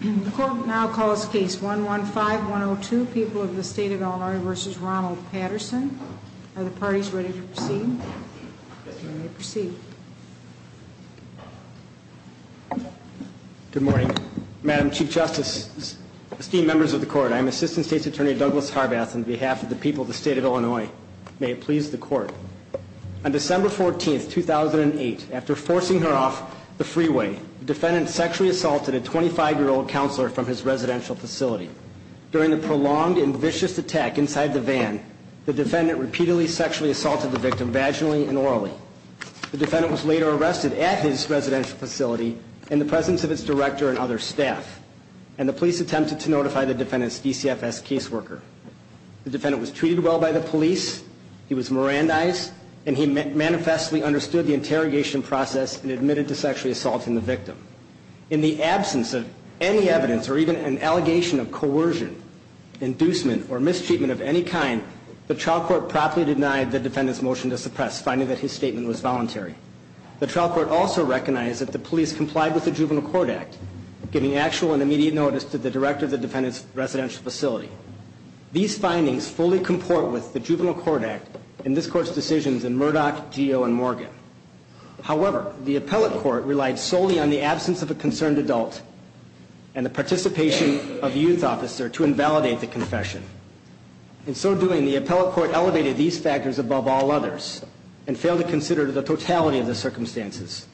The court will now call this case 115-102, People of the State of Illinois v. Ronald Patterson. Are the parties ready to proceed? Yes, ma'am. You may proceed. Good morning, Madam Chief Justice, esteemed members of the court. I am Assistant State's Attorney Douglas Harbath on behalf of the people of the State of Illinois. May it please the court. On December 14, 2008, after forcing her off the freeway, the defendant sexually assaulted a 25-year-old counselor from his residential facility. During the prolonged and vicious attack inside the van, the defendant repeatedly sexually assaulted the victim vaginally and orally. The defendant was later arrested at his residential facility in the presence of its director and other staff, and the police attempted to notify the defendant's DCFS caseworker. The defendant was treated well by the police, he was Mirandized, and he manifestly understood the interrogation process and admitted to sexually assaulting the victim. In the absence of any evidence or even an allegation of coercion, inducement, or mistreatment of any kind, the trial court promptly denied the defendant's motion to suppress, finding that his statement was voluntary. The trial court also recognized that the police complied with the Juvenile Court Act, giving actual and immediate notice to the director of the defendant's residential facility. These findings fully comport with the Juvenile Court Act and this court's decisions in Murdoch, Geo, and Morgan. However, the appellate court relied solely on the absence of a concerned adult and the participation of a youth officer to invalidate the confession. In so doing, the appellate court elevated these factors above all others and failed to consider the totality of the circumstances.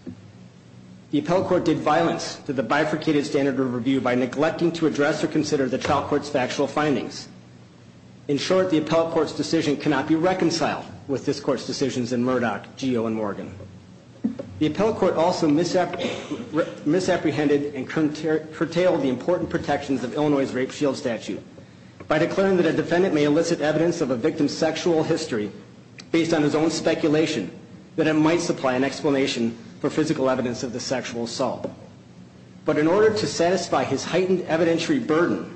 The appellate court did violence to the bifurcated standard of review by neglecting to address or consider the trial court's factual findings. In short, the appellate court's decision cannot be reconciled with this court's decisions in Murdoch, Geo, and Morgan. The appellate court also misapprehended and curtailed the important protections of Illinois' rape shield statute by declaring that a defendant may elicit evidence of a victim's sexual history based on his own speculation that it might supply an explanation for physical evidence of the sexual assault. But in order to satisfy his heightened evidentiary burden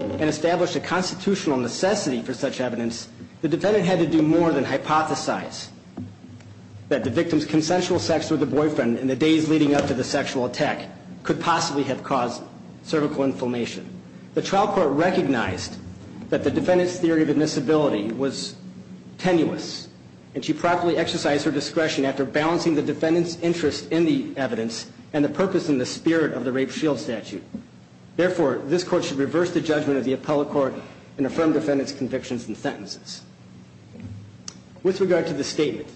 and establish a constitutional necessity for such evidence, the defendant had to do more than hypothesize that the victim's consensual sex with the boyfriend in the days leading up to the sexual attack could possibly have caused cervical inflammation. The trial court recognized that the defendant's theory of admissibility was tenuous and she properly exercised her discretion after balancing the defendant's interest in the evidence and the purpose and the spirit of the rape shield statute. Therefore, this court should reverse the judgment of the appellate court and affirm defendant's convictions and sentences. With regard to the statement,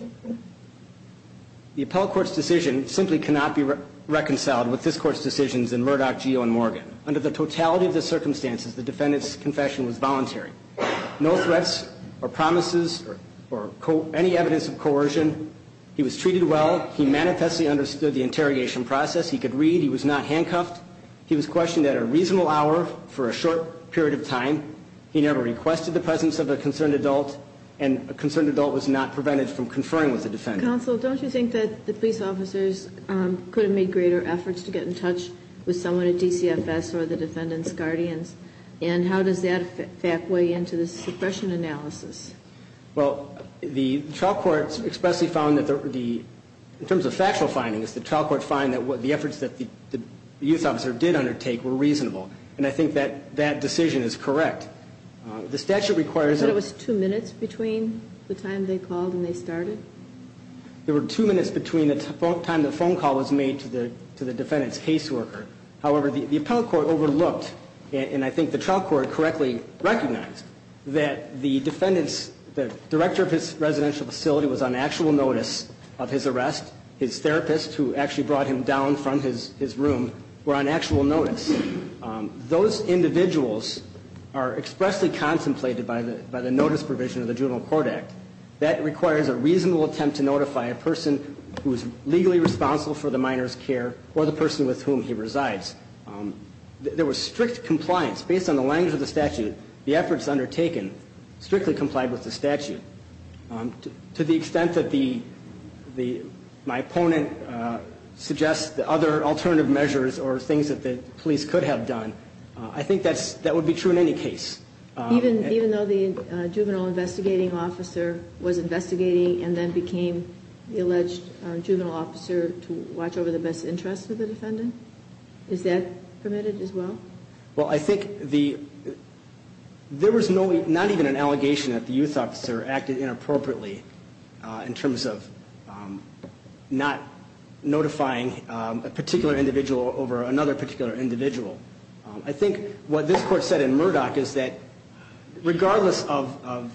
the appellate court's decision simply cannot be reconciled with this court's decisions in Murdoch, Geo, and Morgan. Under the totality of the circumstances, the defendant's confession was voluntary. No threats or promises or any evidence of coercion. He was treated well. He manifestly understood the interrogation process. He could read. He was not handcuffed. He was questioned at a reasonable hour for a short period of time. He never requested the presence of a concerned adult, and a concerned adult was not prevented from conferring with the defendant. Counsel, don't you think that the police officers could have made greater efforts to get in touch with someone at DCFS or the defendant's guardians? And how does that fact weigh into the suppression analysis? Well, the trial court expressly found that the ‑‑ in terms of factual findings, the trial court found that the efforts that the youth officer did undertake were reasonable, and I think that that decision is correct. The statute requires ‑‑ You said it was two minutes between the time they called and they started? There were two minutes between the time the phone call was made to the defendant's caseworker. However, the appellate court overlooked, and I think the trial court correctly recognized, that the defendant's ‑‑ the director of his residential facility was on actual notice of his arrest. His therapist, who actually brought him down from his room, were on actual notice. Those individuals are expressly contemplated by the notice provision of the Juvenile Court Act. That requires a reasonable attempt to notify a person who is legally responsible for the minor's care or the person with whom he resides. There was strict compliance. Based on the language of the statute, the efforts undertaken strictly complied with the statute. To the extent that my opponent suggests other alternative measures or things that the police could have done, I think that would be true in any case. Even though the juvenile investigating officer was investigating and then became the alleged juvenile officer to watch over the best interests of the defendant? Is that permitted as well? Well, I think there was not even an allegation that the youth officer acted inappropriately in terms of not notifying a particular individual over another particular individual. I think what this court said in Murdoch is that regardless of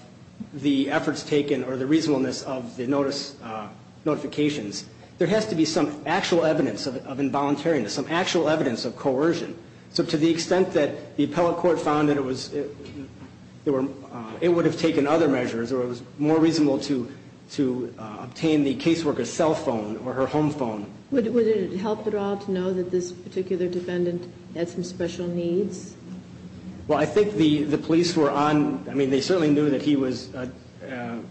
the efforts taken or the reasonableness of the notice notifications, there has to be some actual evidence of involuntariness, some actual evidence of coercion. So to the extent that the appellate court found that it would have taken other measures or it was more reasonable to obtain the caseworker's cell phone or her home phone. Would it help at all to know that this particular defendant had some special needs? Well, I think the police were on. I mean, they certainly knew that he was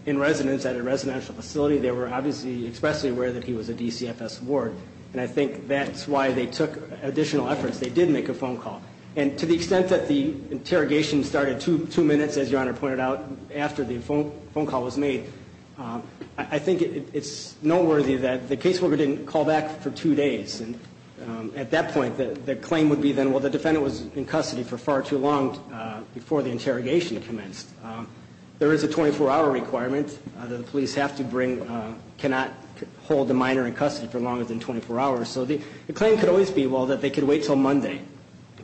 in residence at a residential facility. They were obviously expressly aware that he was a DCFS ward. And I think that's why they took additional efforts. They did make a phone call. And to the extent that the interrogation started two minutes, as Your Honor pointed out, after the phone call was made, I think it's noteworthy that the caseworker didn't call back for two days. And at that point, the claim would be then, well, the defendant was in custody for far too long before the interrogation commenced. There is a 24-hour requirement that the police have to bring, cannot hold the minor in custody for longer than 24 hours. So the claim could always be, well, that they could wait until Monday.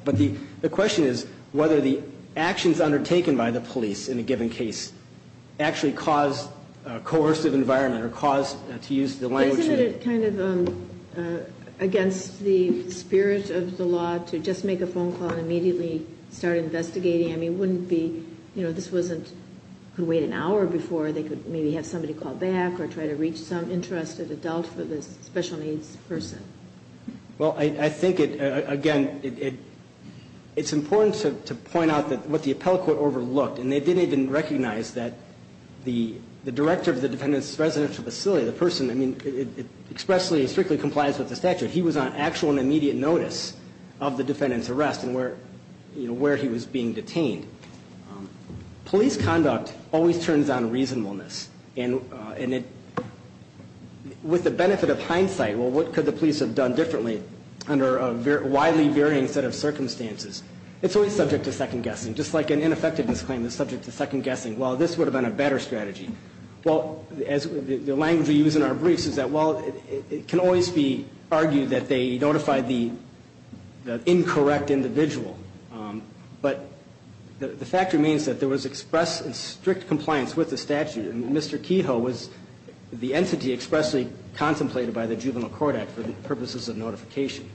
But the question is whether the actions undertaken by the police in a given case actually caused a coercive environment or caused, to use the language of the law. Isn't it kind of against the spirit of the law to just make a phone call and immediately start investigating? I mean, wouldn't be, you know, this wasn't, could wait an hour before they could maybe have somebody call back or try to reach some interested adult for this special needs person. Well, I think it, again, it's important to point out what the appellate court overlooked. And they didn't even recognize that the director of the defendant's residential facility, the person, I mean, expressly and strictly complies with the statute. He was on actual and immediate notice of the defendant's arrest and where he was being detained. Police conduct always turns on reasonableness. And it, with the benefit of hindsight, well, what could the police have done differently under a widely varying set of circumstances? It's always subject to second guessing. Just like an ineffectiveness claim is subject to second guessing. Well, this would have been a better strategy. Well, as the language we use in our briefs is that, well, it can always be argued that they notified the incorrect individual. But the fact remains that there was express and strict compliance with the statute. And Mr. Kehoe was the entity expressly contemplated by the Juvenile Court Act for the purposes of notification.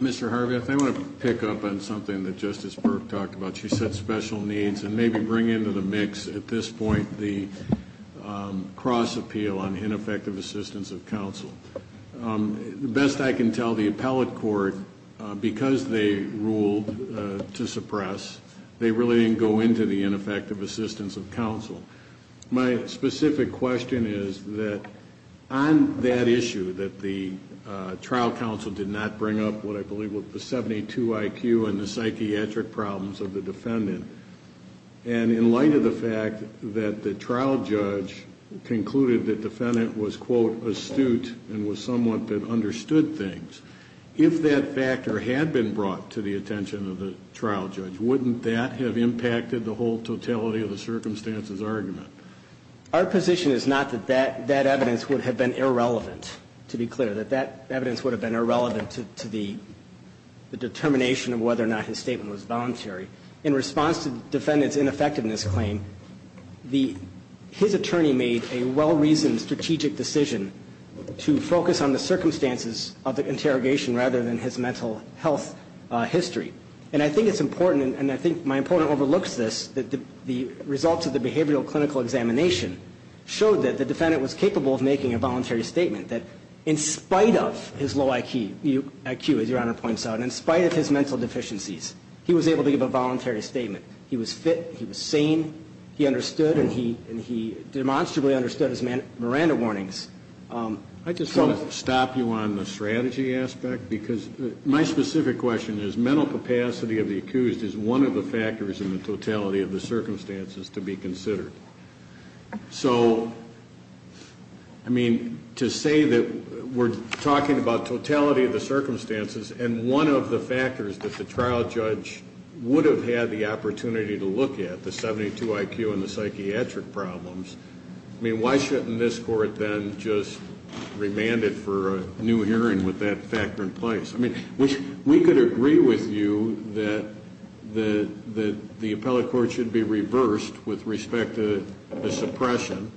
Mr. Harvey, if I want to pick up on something that Justice Burke talked about. She said special needs. And maybe bring into the mix at this point the cross appeal on ineffective assistance of counsel. The best I can tell the appellate court, because they ruled to suppress, they really didn't go into the ineffective assistance of counsel. My specific question is that on that issue that the trial counsel did not bring up what I believe was the 72 IQ and in light of the fact that the trial judge concluded the defendant was, quote, astute and was somewhat that understood things. If that factor had been brought to the attention of the trial judge, wouldn't that have impacted the whole totality of the circumstances argument? Our position is not that that evidence would have been irrelevant, to be clear. That that evidence would have been irrelevant to the determination of whether or not his statement was voluntary. In response to the defendant's ineffectiveness claim, his attorney made a well-reasoned strategic decision to focus on the circumstances of the interrogation rather than his mental health history. And I think it's important, and I think my opponent overlooks this, that the results of the behavioral clinical examination showed that the defendant was capable of making a voluntary statement. That in spite of his low IQ, as Your Honor points out, in spite of his mental deficiencies, he was able to give a voluntary statement. He was fit, he was sane, he understood, and he demonstrably understood his Miranda warnings. I just want to stop you on the strategy aspect because my specific question is mental capacity of the accused is one of the factors in the totality of the circumstances to be considered. So, I mean, to say that we're talking about totality of the circumstances and one of the factors that the trial judge would have had the opportunity to look at, the 72 IQ and the psychiatric problems, I mean, why shouldn't this court then just remand it for a new hearing with that factor in place? I mean, we could agree with you that the appellate court should be reversed with respect to the suppression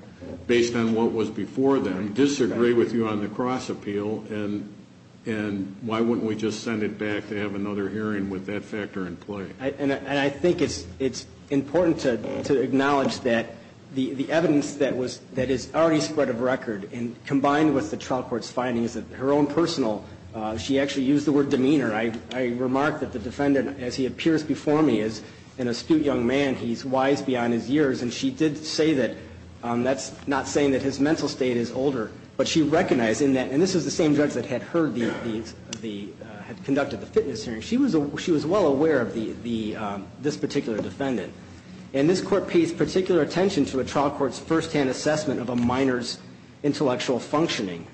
based on what was before them, disagree with you on the cross appeal, and why wouldn't we just send it back to have another hearing with that factor in place? And I think it's important to acknowledge that the evidence that is already spread of record and combined with the trial court's findings of her own personal, she actually used the word demeanor. I remarked that the defendant, as he appears before me, is an astute young man, he's wise beyond his years, and she did say that, that's not saying that his mental state is older, but she recognized in that, and this is the same judge that had heard the, had conducted the fitness hearing, she was well aware of this particular defendant. And this court pays particular attention to a trial court's first-hand assessment of a minor's intellectual functioning.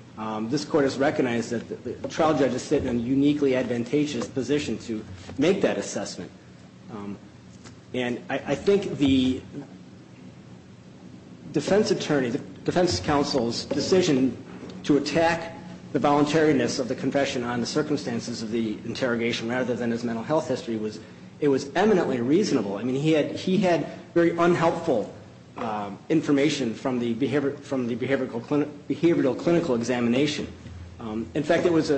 This court has recognized that the trial judge is sitting in a uniquely advantageous position to make that assessment. And I think the defense attorney, the defense counsel's decision to attack the voluntariness of the confession on the circumstances of the interrogation rather than his mental health history was, it was eminently reasonable. I mean, he had very unhelpful information from the behavioral clinical examination. In fact, it was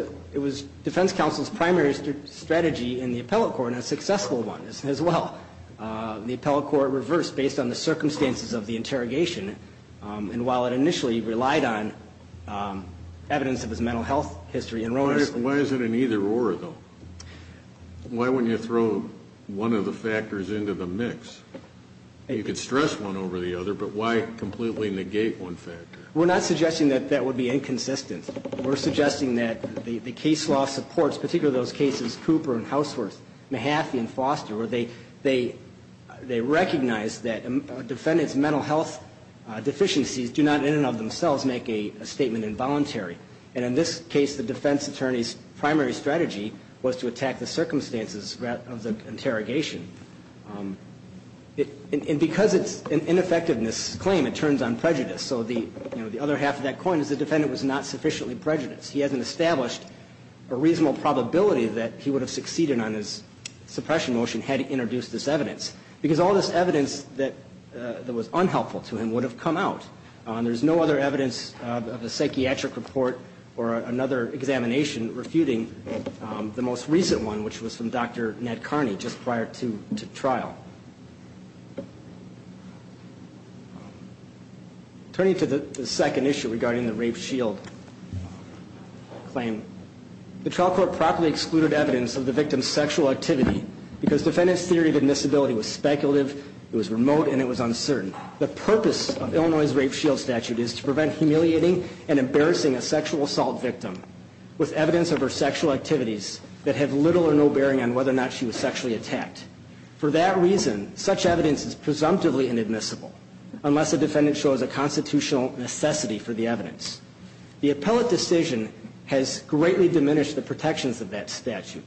defense counsel's primary strategy in the appellate court, and a successful one as well. The appellate court reversed based on the circumstances of the interrogation, and while it initially relied on evidence of his mental health history and role in the state. Why is it an either-or, though? Why wouldn't you throw one of the factors into the mix? You could stress one over the other, but why completely negate one factor? We're not suggesting that that would be inconsistent. We're suggesting that the case law supports, particularly those cases Cooper and Houseworth, Mahaffey and Foster, where they recognize that a defendant's mental health deficiencies do not in and of themselves make a statement involuntary. And in this case, the defense attorney's primary strategy was to attack the circumstances of the interrogation. And because it's an ineffectiveness claim, it turns on prejudice. So the other half of that coin is the defendant was not sufficiently prejudiced. He hasn't established a reasonable probability that he would have succeeded on his suppression motion had he introduced this evidence, because all this evidence that was unhelpful to him would have come out. There's no other evidence of the psychiatric report or another examination refuting the most recent one, which was from Dr. Ned Carney just prior to trial. Turning to the second issue regarding the rape shield claim, the trial court properly excluded evidence of the victim's sexual activity because defendant's theory of admissibility was speculative, it was remote, and it was uncertain. The purpose of Illinois' rape shield statute is to prevent humiliating and embarrassing a sexual assault victim with evidence of her sexual activities that have little or no bearing on whether or not she was sexually attacked. For that reason, such evidence is presumptively inadmissible, unless a defendant shows a constitutional necessity for the evidence. The appellate decision has greatly diminished the protections of that statute.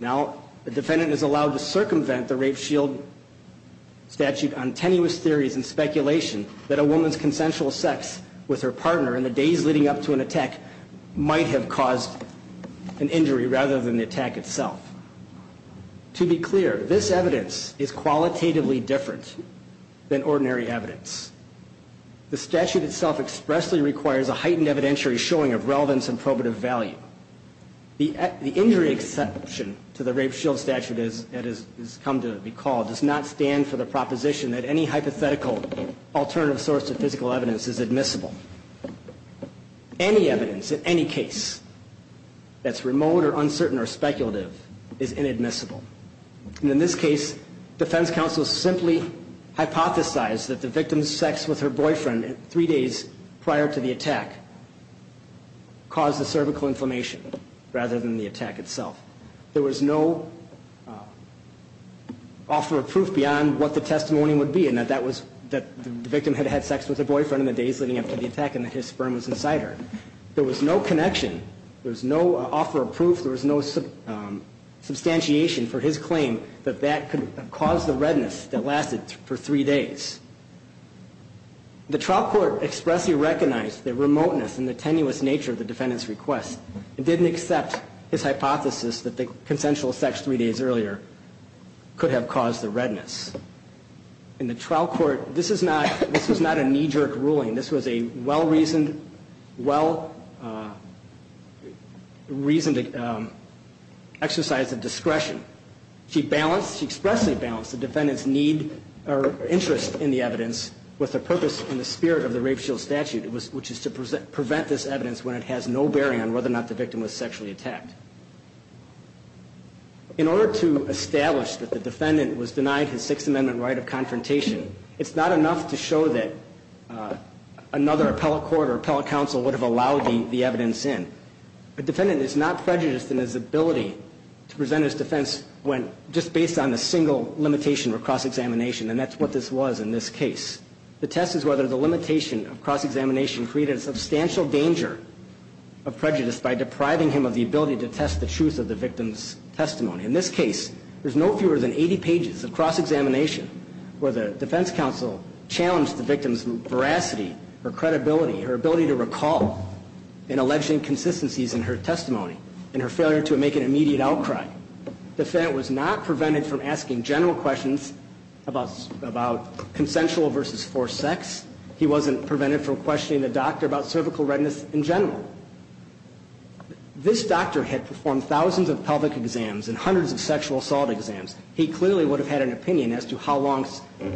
Now, the defendant is allowed to circumvent the rape shield statute on tenuous theories and speculation that a woman's consensual sex with her partner in the days leading up to an attack might have caused an injury rather than the attack itself. To be clear, this evidence is qualitatively different than ordinary evidence. The statute itself expressly requires a heightened evidentiary showing of relevance and probative value. The injury exception to the rape shield statute that has come to be called does not stand for the proposition that any hypothetical alternative source of physical evidence is admissible. Any evidence in any case that's remote or uncertain or speculative is inadmissible. And in this case, defense counsel simply hypothesized that the victim's sex with her boyfriend three days prior to the attack caused the cervical inflammation rather than the attack itself. There was no offer of proof beyond what the testimony would be and that that was that the victim had had sex with her boyfriend in the days leading up to the attack and that his sperm was in cider. There was no connection. There was no offer of proof. There was no substantiation for his claim that that could have caused the redness that lasted for three days. The trial court expressly recognized the remoteness and the tenuous nature of the defendant's request and didn't accept his hypothesis that the consensual sex three days earlier could have caused the redness. In the trial court, this was not a knee-jerk ruling. This was a well-reasoned exercise of discretion. She balanced, she expressly balanced the defendant's need or interest in the evidence with a purpose in the spirit of the rape shield statute, which is to prevent this evidence when it has no bearing on whether or not the victim was sexually attacked. In order to establish that the defendant was denied his Sixth Amendment right of confrontation, it's not enough to show that another appellate court or appellate counsel would have allowed the evidence in. A defendant is not prejudiced in his ability to present his defense just based on a single limitation of cross-examination, and that's what this was in this case. The test is whether the limitation of cross-examination created a substantial danger of prejudice by depriving him of the ability to test the truth of the victim's testimony. In this case, there's no fewer than 80 pages of cross-examination where the defense counsel challenged the victim's veracity or credibility, her ability to recall an alleged inconsistencies in her testimony, and her failure to make an immediate outcry. The defendant was not prevented from asking general questions about consensual versus forced sex. He wasn't prevented from questioning the doctor about cervical redness in general. This doctor had performed thousands of pelvic exams and hundreds of sexual assault exams. He clearly would have had an opinion as to how long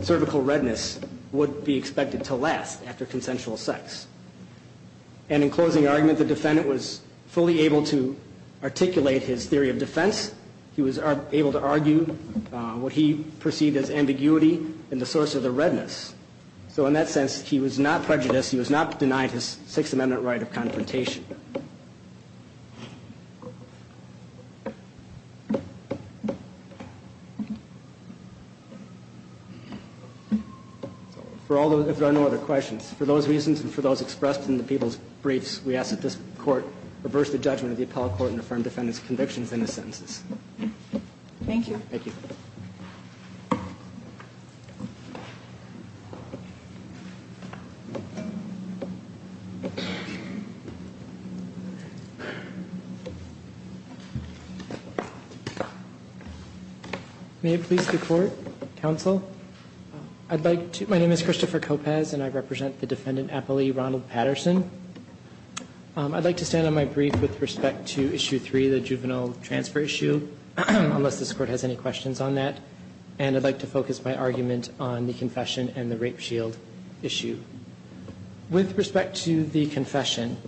cervical redness would be expected to last after consensual sex. And in closing argument, the defendant was fully able to articulate his theory of defense. He was able to argue what he perceived as ambiguity and the source of the redness. So in that sense, he was not prejudiced. He was not denied his Sixth Amendment right of confrontation. For all those, if there are no other questions, for those reasons and for those expressed in the people's briefs, we ask that this court reverse the judgment of the appellate court and affirm defendant's convictions in the sentences. Thank you. Thank you. Thank you. May it please the court, counsel. I'd like to, my name is Christopher Kopecz and I represent the defendant appellee Ronald Patterson. I'd like to stand on my brief with respect to issue three, the juvenile transfer issue, unless this court has any questions on that. And I'd like to focus my argument on the confession and the rape shield issue. With respect to the confession,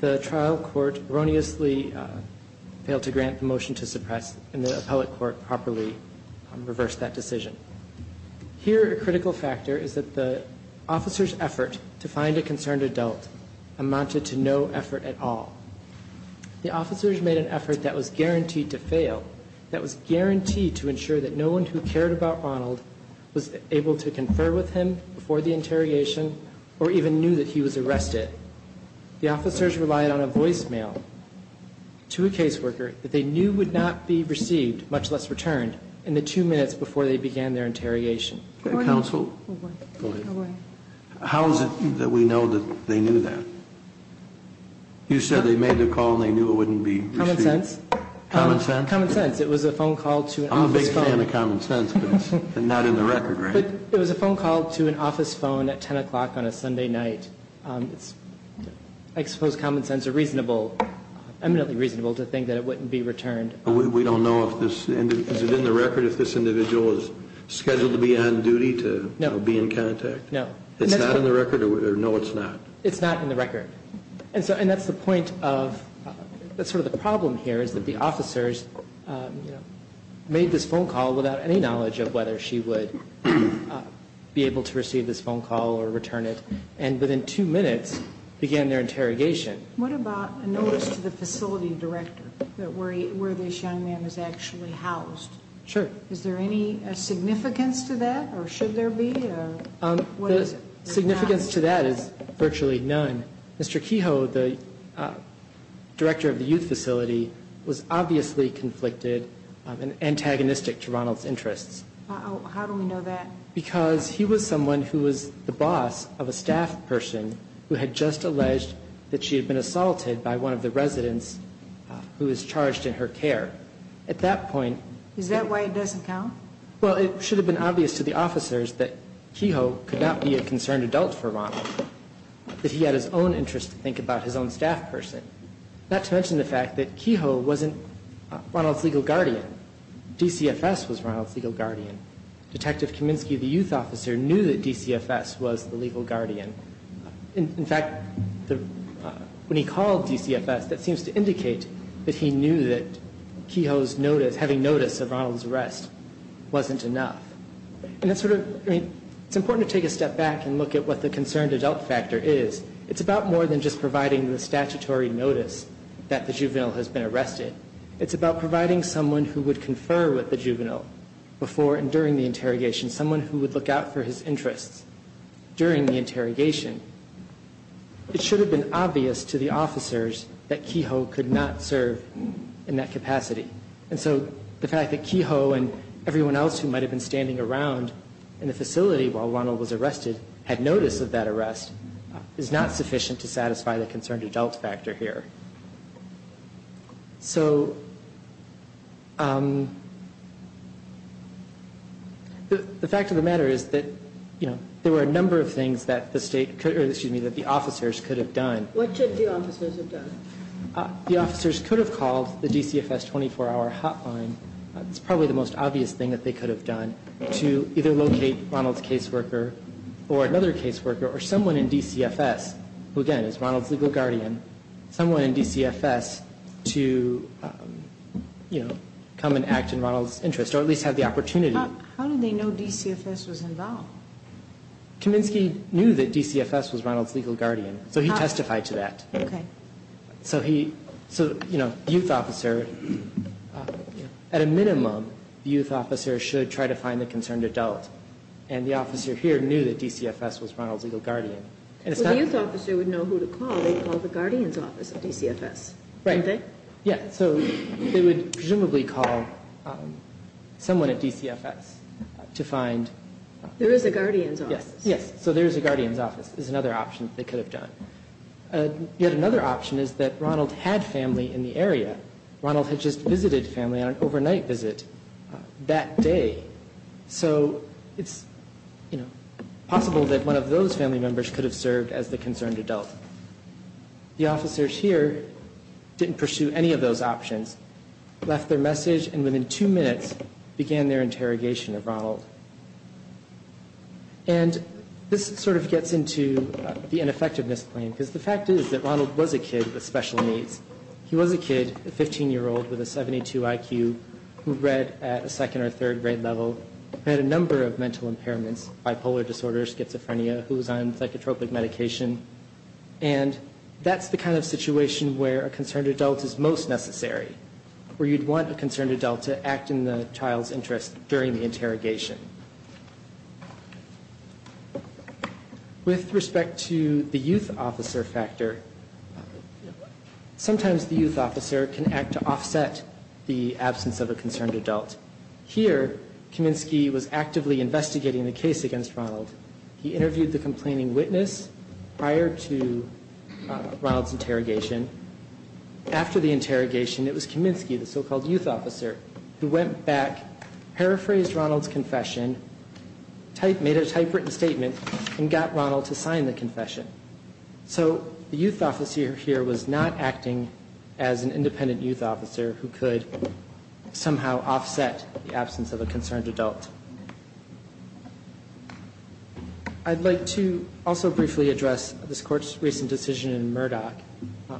the trial court erroneously failed to grant the motion to suppress, and the appellate court properly reversed that decision. Here, a critical factor is that the officer's effort to find a concerned adult amounted to no effort at all. The officers made an effort that was guaranteed to fail, that was guaranteed to ensure that no one who cared about Ronald was able to confer with him before the interrogation, or even knew that he was arrested. The officers relied on a voicemail to a caseworker that they knew would not be received, much less returned, in the two minutes before they began their interrogation. Counsel, how is it that we know that they knew that? You said they made the call and they knew it wouldn't be received. Common sense. Common sense. It was a phone call to an office phone. I'm a big fan of common sense, but it's not in the record, right? It was a phone call to an office phone at 10 o'clock on a Sunday night. I suppose common sense is eminently reasonable to think that it wouldn't be returned. We don't know. Is it in the record if this individual is scheduled to be on duty to be in contact? No. It's not in the record? No, it's not. It's not in the record. And that's sort of the problem here, is that the officers made this phone call without any knowledge of whether she would be able to receive this phone call or return it, and within two minutes began their interrogation. What about a notice to the facility director where this young man is actually housed? Sure. Is there any significance to that, or should there be? The significance to that is virtually none. Mr. Kehoe, the director of the youth facility, was obviously conflicted and antagonistic to Ronald's interests. How do we know that? Because he was someone who was the boss of a staff person who had just alleged that she had been assaulted by one of the residents who was charged in her care. At that point... Is that why it doesn't count? Well, it should have been obvious to the officers that Kehoe could not be a concerned adult for Ronald, that he had his own interests to think about, his own staff person, not to mention the fact that Kehoe wasn't Ronald's legal guardian. DCFS was Ronald's legal guardian. Detective Kaminsky, the youth officer, knew that DCFS was the legal guardian. In fact, when he called DCFS, that seems to indicate that he knew that Kehoe's notice, having notice of Ronald's arrest, wasn't enough. It's important to take a step back and look at what the concerned adult factor is. It's about more than just providing the statutory notice that the juvenile has been arrested. It's about providing someone who would confer with the juvenile before and during the interrogation, someone who would look out for his interests during the interrogation. It should have been obvious to the officers that Kehoe could not serve in that capacity. And so the fact that Kehoe and everyone else who might have been standing around in the facility while Ronald was arrested had notice of that arrest is not sufficient to satisfy the concerned adult factor here. So the fact of the matter is that there were a number of things that the officers could have done. What should the officers have done? The officers could have called the DCFS 24-hour hotline. It's probably the most obvious thing that they could have done to either locate Ronald's caseworker or another caseworker or someone in DCFS who, again, is Ronald's legal guardian, someone in DCFS to come and act in Ronald's interest or at least have the opportunity. How did they know DCFS was involved? Kaminsky knew that DCFS was Ronald's legal guardian, so he testified to that. Okay. So, you know, the youth officer, at a minimum, the youth officer should try to find the concerned adult. And the officer here knew that DCFS was Ronald's legal guardian. Well, the youth officer would know who to call. They would call the guardians office of DCFS, wouldn't they? Right. Yeah. So they would presumably call someone at DCFS to find... There is a guardians office. Yes. So there is a guardians office is another option that they could have done. Yet another option is that Ronald had family in the area. Ronald had just visited family on an overnight visit that day. So it's possible that one of those family members could have served as the concerned adult. The officers here didn't pursue any of those options, left their message, and within two minutes began their interrogation of Ronald. And this sort of gets into the ineffectiveness claim, because the fact is that Ronald was a kid with special needs. He was a kid, a 15-year-old with a 72 IQ who read at a second or third grade level, had a number of mental impairments, bipolar disorders, schizophrenia, who was on psychotropic medication. And that's the kind of situation where a concerned adult is most necessary, where you'd want a concerned adult to act in the child's interest during the interrogation. With respect to the youth officer factor, sometimes the youth officer can act to offset the absence of a concerned adult. Here, Kaminsky was actively investigating the case against Ronald. He interviewed the complaining witness prior to Ronald's interrogation. After the interrogation, it was Kaminsky, the so-called youth officer, who went back, paraphrased Ronald's confession, made a typewritten statement, and got Ronald to sign the confession. So the youth officer here was not acting as an independent youth officer who could somehow offset the absence of a concerned adult. I'd like to also briefly address this Court's recent decision in Murdoch,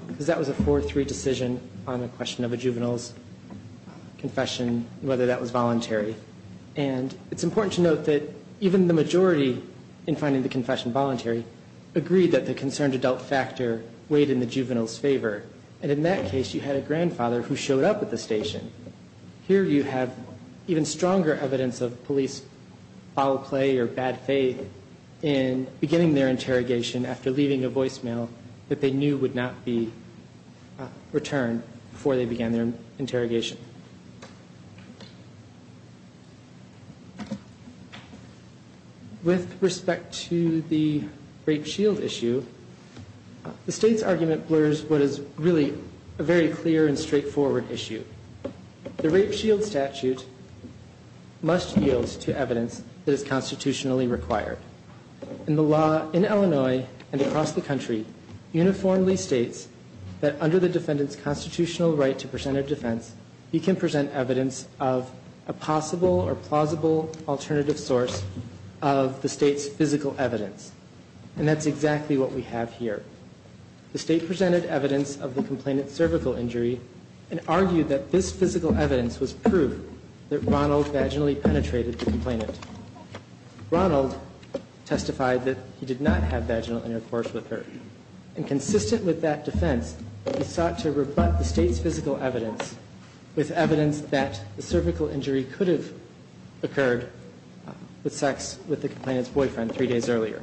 because that was a 4-3 decision on the question of a juvenile's confession, whether that was voluntary. And it's important to note that even the majority in finding the confession voluntary agreed that the concerned adult factor weighed in the juvenile's favor. And in that case, you had a grandfather who showed up at the station. Here you have even stronger evidence of police foul play or bad faith in beginning their interrogation after leaving a voicemail that they knew would not be returned before they began their interrogation. With respect to the rape shield issue, the State's argument blurs what is really a very clear and straightforward issue. The rape shield statute must yield to evidence that is constitutionally required. And the law in Illinois and across the country uniformly states that under the defendant's constitutional right to presented defense, he can present evidence of a possible or plausible alternative source of the State's physical evidence. And that's exactly what we have here. The State presented evidence of the complainant's cervical injury and argued that this physical evidence was proof that Ronald vaginally penetrated the complainant. Ronald testified that he did not have vaginal intercourse with her. And consistent with that defense, he sought to rebut the State's physical evidence with evidence that the cervical injury could have occurred with sex with the complainant's boyfriend three days earlier.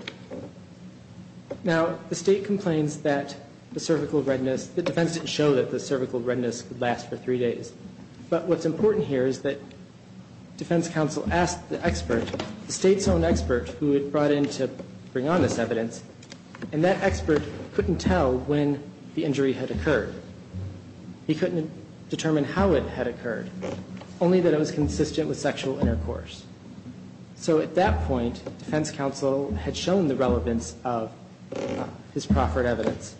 Now, the State complains that the cervical redness The defense didn't show that the cervical redness could last for three days. But what's important here is that defense counsel asked the expert, the State's own expert who had brought in to bring on this evidence, and that expert couldn't tell when the injury had occurred. He couldn't determine how it had occurred, only that it was consistent with sexual intercourse. So at that point, defense counsel had shown the relevance of his proffered evidence.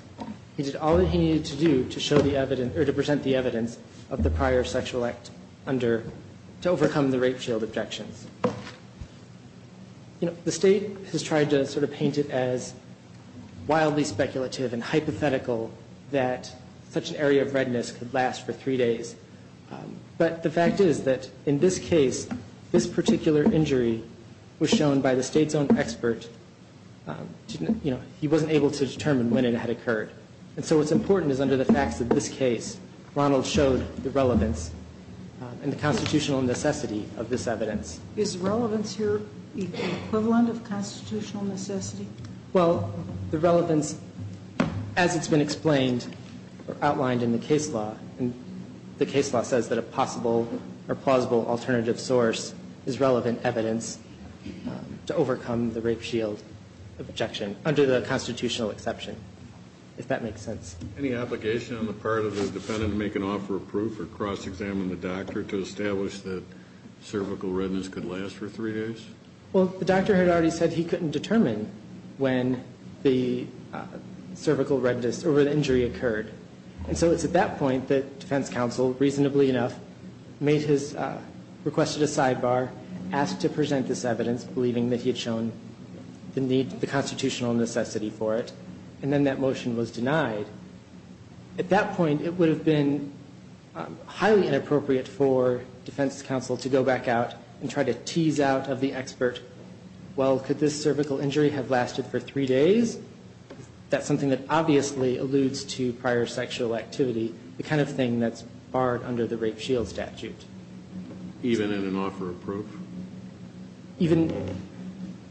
He did all that he needed to do to present the evidence of the prior sexual act to overcome the rape shield objections. The State has tried to sort of paint it as wildly speculative and hypothetical that such an area of redness could last for three days. But the fact is that in this case, this particular injury was shown by the State's own expert. He wasn't able to determine when it had occurred. And so what's important is under the facts of this case, Ronald showed the relevance and the constitutional necessity of this evidence. Is relevance here the equivalent of constitutional necessity? Well, the relevance, as it's been explained or outlined in the case law, the case law says that a possible or plausible alternative source is relevant evidence to overcome the rape shield objection under the constitutional exception, if that makes sense. Any obligation on the part of the defendant to make an offer of proof or cross-examine the doctor to establish that cervical redness could last for three days? Well, the doctor had already said he couldn't determine when the cervical redness or when the injury occurred. And so it's at that point that defense counsel, reasonably enough, requested a sidebar, asked to present this evidence, believing that he had shown the constitutional necessity for it. And then that motion was denied. At that point, it would have been highly inappropriate for defense counsel to go back out and try to tease out of the expert, well, could this cervical injury have lasted for three days? That's something that obviously alludes to prior sexual activity, the kind of thing that's barred under the rape shield statute. Even in an offer of proof? Even,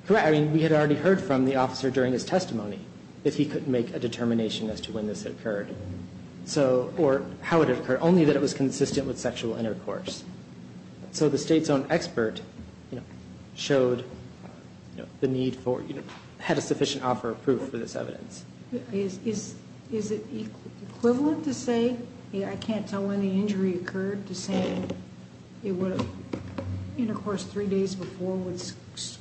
correct. I mean, we had already heard from the officer during his testimony if he could make a determination as to when this occurred. So, or how it occurred, only that it was consistent with sexual intercourse. So the state's own expert, you know, showed the need for, you know, had a sufficient offer of proof for this evidence. Is it equivalent to say, I can't tell when the injury occurred, to saying intercourse three days before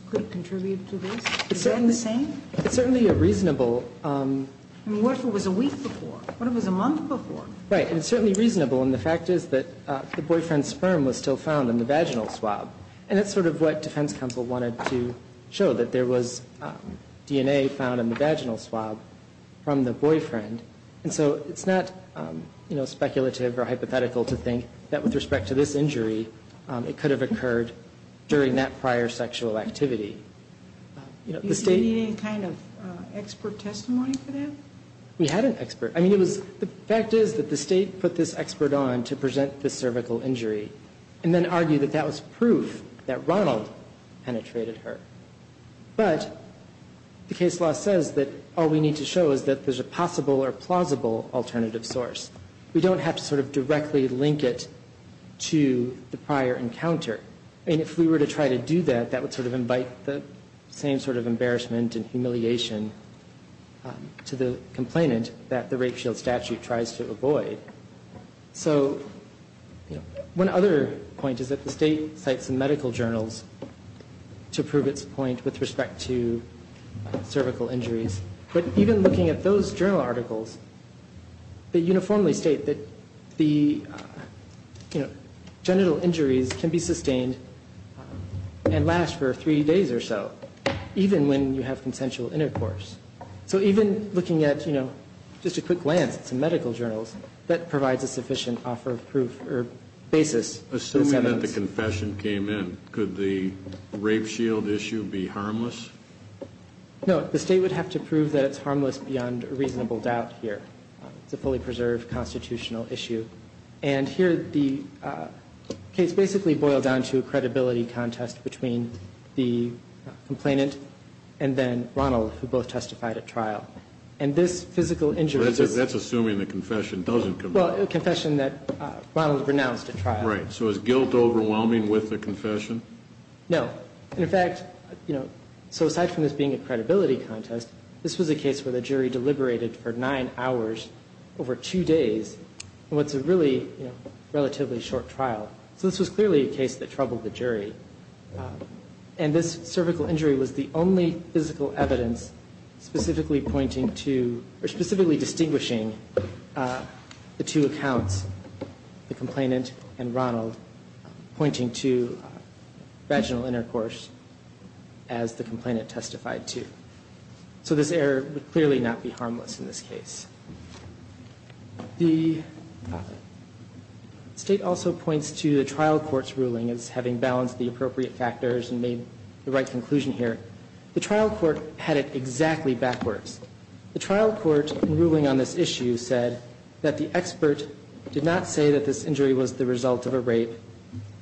could contribute to this? Is that the same? It's certainly a reasonable... I mean, what if it was a week before? What if it was a month before? Right, and it's certainly reasonable, and the fact is that the boyfriend's sperm was still found in the vaginal swab. And that's sort of what defense counsel wanted to show, that there was DNA found in the vaginal swab from the boyfriend. And so it's not, you know, speculative or hypothetical to think that with respect to this injury, it could have occurred during that prior sexual activity. Do you see any kind of expert testimony for that? We had an expert. I mean, the fact is that the state put this expert on to present the cervical injury and then argued that that was proof that Ronald penetrated her. But the case law says that all we need to show is that there's a possible or plausible alternative source. We don't have to sort of directly link it to the prior encounter. And if we were to try to do that, that would sort of invite the same sort of embarrassment and humiliation to the complainant that the rape shield statute tries to avoid. So one other point is that the state cites some medical journals to prove its point with respect to cervical injuries. But even looking at those journal articles, they uniformly state that the genital injuries can be sustained and last for three days or so, even when you have consensual intercourse. So even looking at, you know, just a quick glance at some medical journals, that provides a sufficient offer of proof or basis. Assuming that the confession came in, could the rape shield issue be harmless? No. The state would have to prove that it's harmless beyond a reasonable doubt here. It's a fully preserved constitutional issue. And here the case basically boiled down to a credibility contest between the complainant and then Ronald, who both testified at trial. And this physical injury. That's assuming the confession doesn't come. Well, a confession that Ronald renounced at trial. Right. So is guilt overwhelming with the confession? No. And, in fact, you know, so aside from this being a credibility contest, this was a case where the jury deliberated for nine hours over two days. So this was clearly a case that troubled the jury. And this cervical injury was the only physical evidence specifically pointing to or specifically distinguishing the two accounts, the complainant and Ronald, pointing to vaginal intercourse as the complainant testified to. So this error would clearly not be harmless in this case. The state also points to the trial court's ruling as having balanced the appropriate factors and made the right conclusion here. The trial court had it exactly backwards. The trial court in ruling on this issue said that the expert did not say that this injury was the result of a rape.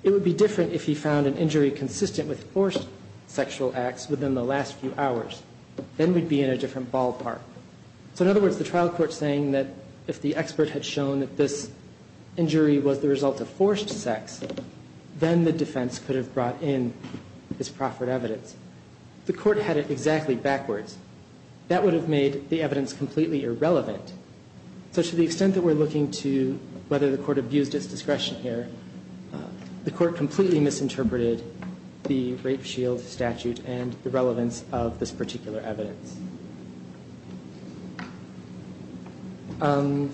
It would be different if he found an injury consistent with forced sexual acts within the last few hours. Then we'd be in a different ballpark. So, in other words, the trial court saying that if the expert had shown that this injury was the result of forced sex, then the defense could have brought in this proffered evidence. The court had it exactly backwards. That would have made the evidence completely irrelevant. So to the extent that we're looking to whether the court abused its discretion here, the court completely misinterpreted the rape shield statute and the relevance of this particular evidence. If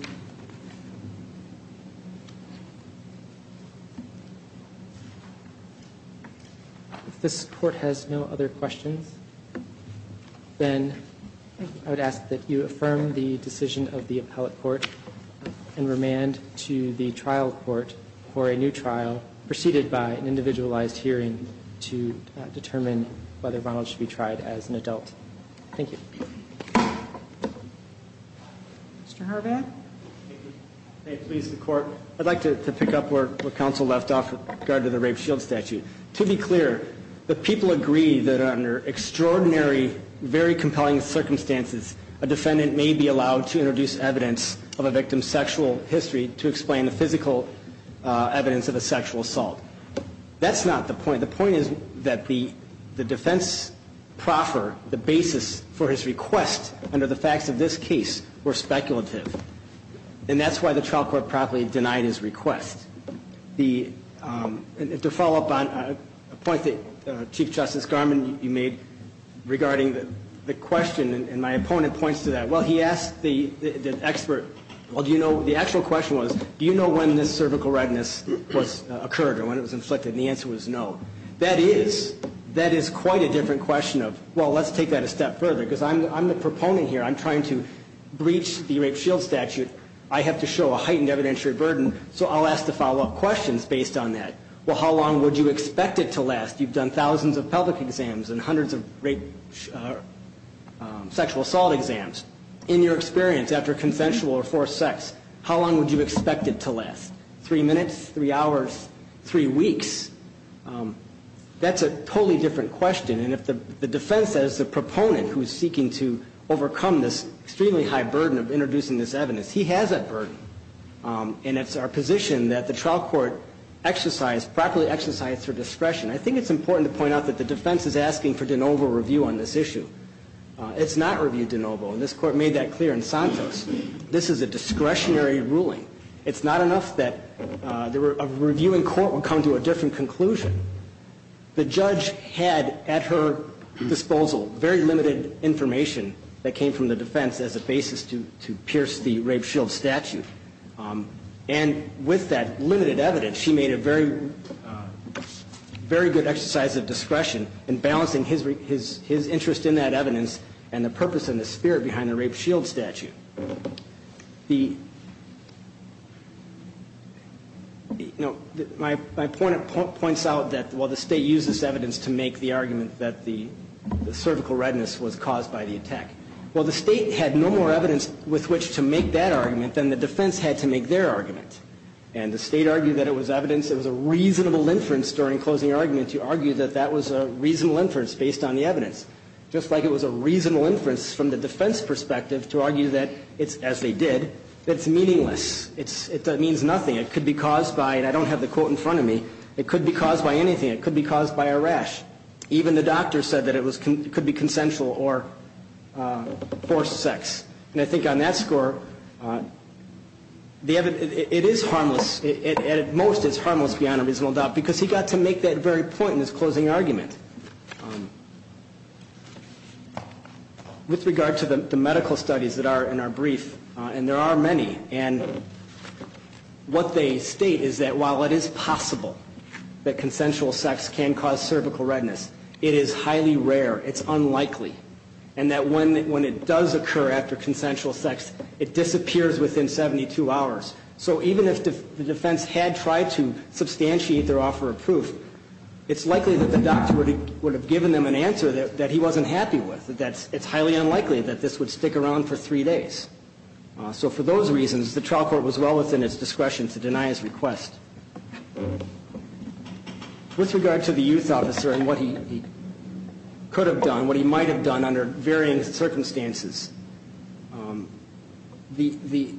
this court has no other questions, then I would ask that you affirm the decision of the appellate court and remand to the trial court for a new trial preceded by an individualized hearing to determine whether Ronald should be tried as an adult. Thank you. Mr. Horvath? May it please the court. I'd like to pick up where counsel left off with regard to the rape shield statute. To be clear, the people agree that under extraordinary, very compelling circumstances, a defendant may be allowed to introduce evidence of a victim's sexual history to explain the physical evidence of a sexual assault. That's not the point. The point is that the defense proffer, the basis for his request under the facts of this case were speculative. And that's why the trial court promptly denied his request. To follow up on a point that Chief Justice Garmon made regarding the question, and my opponent points to that, well, he asked the expert, well, do you know, the actual question was, do you know when this cervical redness occurred or when it was inflicted? And the answer was no. That is, that is quite a different question of, well, let's take that a step further. Because I'm the proponent here. I'm trying to breach the rape shield statute. I have to show a heightened evidentiary burden. So I'll ask the follow-up questions based on that. Well, how long would you expect it to last? You've done thousands of pelvic exams and hundreds of rape sexual assault exams. In your experience, after consensual or forced sex, how long would you expect it to last? Three minutes? Three hours? Three weeks? That's a totally different question. And if the defense says the proponent who is seeking to overcome this extremely high burden of introducing this evidence, he has that burden. And it's our position that the trial court exercise, properly exercise their discretion. I think it's important to point out that the defense is asking for de novo review on this issue. It's not review de novo. And this Court made that clear in Santos. This is a discretionary ruling. It's not enough that a review in court would come to a different conclusion. The judge had at her disposal very limited information that came from the defense as a basis to pierce the rape shield statute. And with that limited evidence, she made a very good exercise of discretion in balancing his interest in that evidence and the purpose and the spirit behind the rape shield statute. My point points out that while the State used this evidence to make the argument that the cervical redness was caused by the attack, while the State had no more evidence with which to make that argument, then the defense had to make their argument. And the State argued that it was evidence, it was a reasonable inference during closing argument to argue that that was a reasonable inference based on the evidence. Just like it was a reasonable inference from the defense perspective to argue that it's, as they did, that it's meaningless. It means nothing. It could be caused by, and I don't have the quote in front of me, it could be caused by anything. It could be caused by a rash. Even the doctor said that it could be consensual or forced sex. And I think on that score, it is harmless. At most, it's harmless beyond a reasonable doubt because he got to make that very point in his closing argument. With regard to the medical studies that are in our brief, and there are many, and what they state is that while it is possible that consensual sex can cause cervical redness, it is highly rare. It's unlikely. And that when it does occur after consensual sex, it disappears within 72 hours. So even if the defense had tried to substantiate their offer of proof, it's likely that the doctor would have given them an answer that he wasn't happy with, that it's highly unlikely that this would stick around for three days. So for those reasons, the trial court was well within its discretion to deny his request. With regard to the youth officer and what he could have done, what he might have done under varying circumstances, the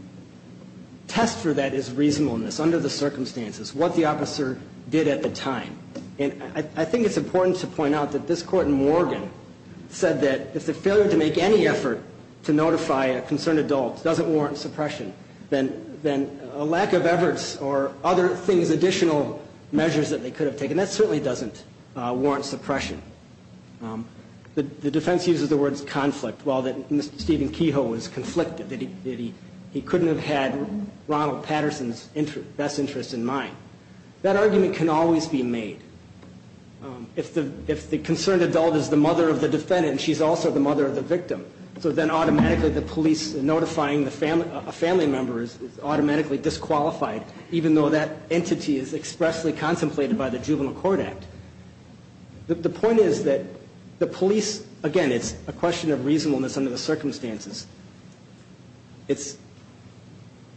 test for that is reasonableness. Under the circumstances, what the officer did at the time. And I think it's important to point out that this Court in Morgan said that if the failure to make any effort to notify a concerned adult doesn't warrant suppression, then a lack of efforts or other things, additional measures that they could have taken, that certainly doesn't warrant suppression. The defense uses the words conflict, while Mr. Stephen Kehoe was conflicted, he couldn't have had Ronald Patterson's best interest in mind. That argument can always be made. If the concerned adult is the mother of the defendant, she's also the mother of the victim. So then automatically the police notifying a family member is automatically disqualified, even though that entity is expressly contemplated by the Juvenile Court Act. The point is that the police, again, it's a question of reasonableness under the circumstances. It's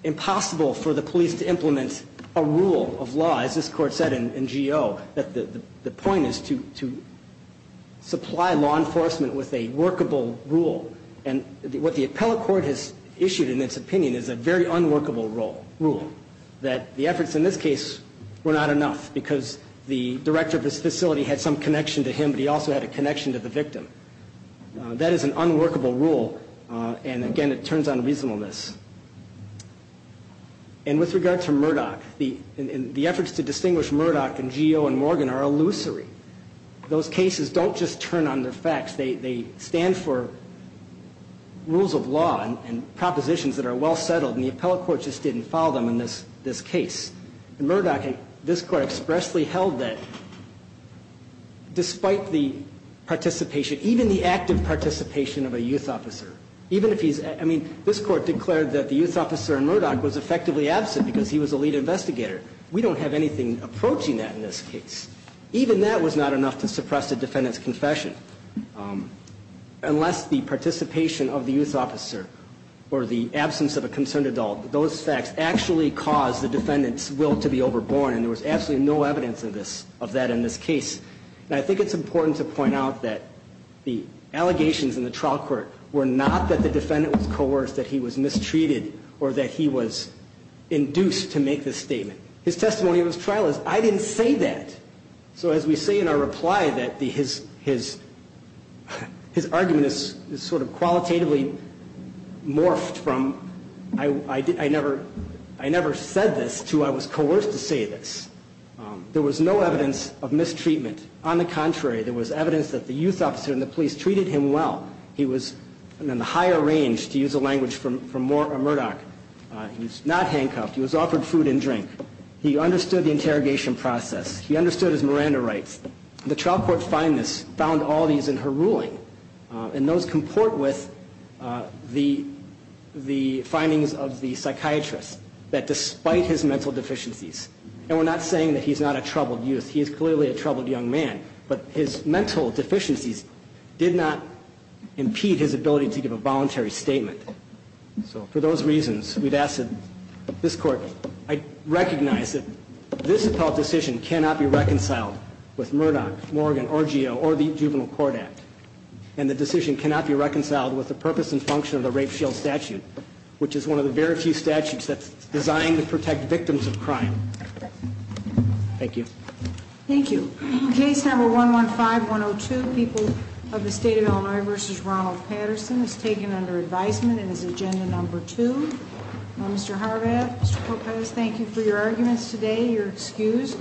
impossible for the police to implement a rule of law, as this Court said in G.O., that the point is to supply law enforcement with a workable rule. And what the appellate court has issued in its opinion is a very unworkable rule, that the efforts in this case were not enough, because the director of this facility had some connection to him, but he also had a connection to the victim. That is an unworkable rule, and, again, it turns on reasonableness. And with regard to Murdoch, the efforts to distinguish Murdoch and G.O. and Morgan are illusory. Those cases don't just turn on their facts. They stand for rules of law and propositions that are well settled, and the appellate court just didn't follow them in this case. In Murdoch, this Court expressly held that, despite the participation, even the active participation of a youth officer, even if he's, I mean, this Court declared that the youth officer in Murdoch was effectively absent because he was a lead investigator. We don't have anything approaching that in this case. Unless the participation of the youth officer or the absence of a concerned adult, those facts actually caused the defendant's will to be overborne, and there was absolutely no evidence of that in this case. And I think it's important to point out that the allegations in the trial court were not that the defendant was coerced, that he was mistreated, or that he was induced to make this statement. His testimony in his trial is, I didn't say that. So as we say in our reply that his argument is sort of qualitatively morphed from, I never said this to I was coerced to say this. There was no evidence of mistreatment. On the contrary, there was evidence that the youth officer and the police treated him well. He was in the higher range, to use a language from Murdoch. He was not handcuffed. He was offered food and drink. He understood the interrogation process. He understood his Miranda rights. The trial court found all these in her ruling, and those comport with the findings of the psychiatrist that despite his mental deficiencies, and we're not saying that he's not a troubled youth. He is clearly a troubled young man, but his mental deficiencies did not impede his ability to give a voluntary statement. So for those reasons, we've asked that this court recognize that this appellate decision cannot be reconciled with Murdoch, Morgan, Orgeo, or the Juvenile Court Act. And the decision cannot be reconciled with the purpose and function of the rape shield statute, which is one of the very few statutes that's designed to protect victims of crime. Thank you. Thank you. Case number 115-102, People of the State of Illinois v. Ronald Patterson, is taken under advisement and is agenda number two. Mr. Horvath, Mr. Corpez, thank you for your arguments today. You're excused.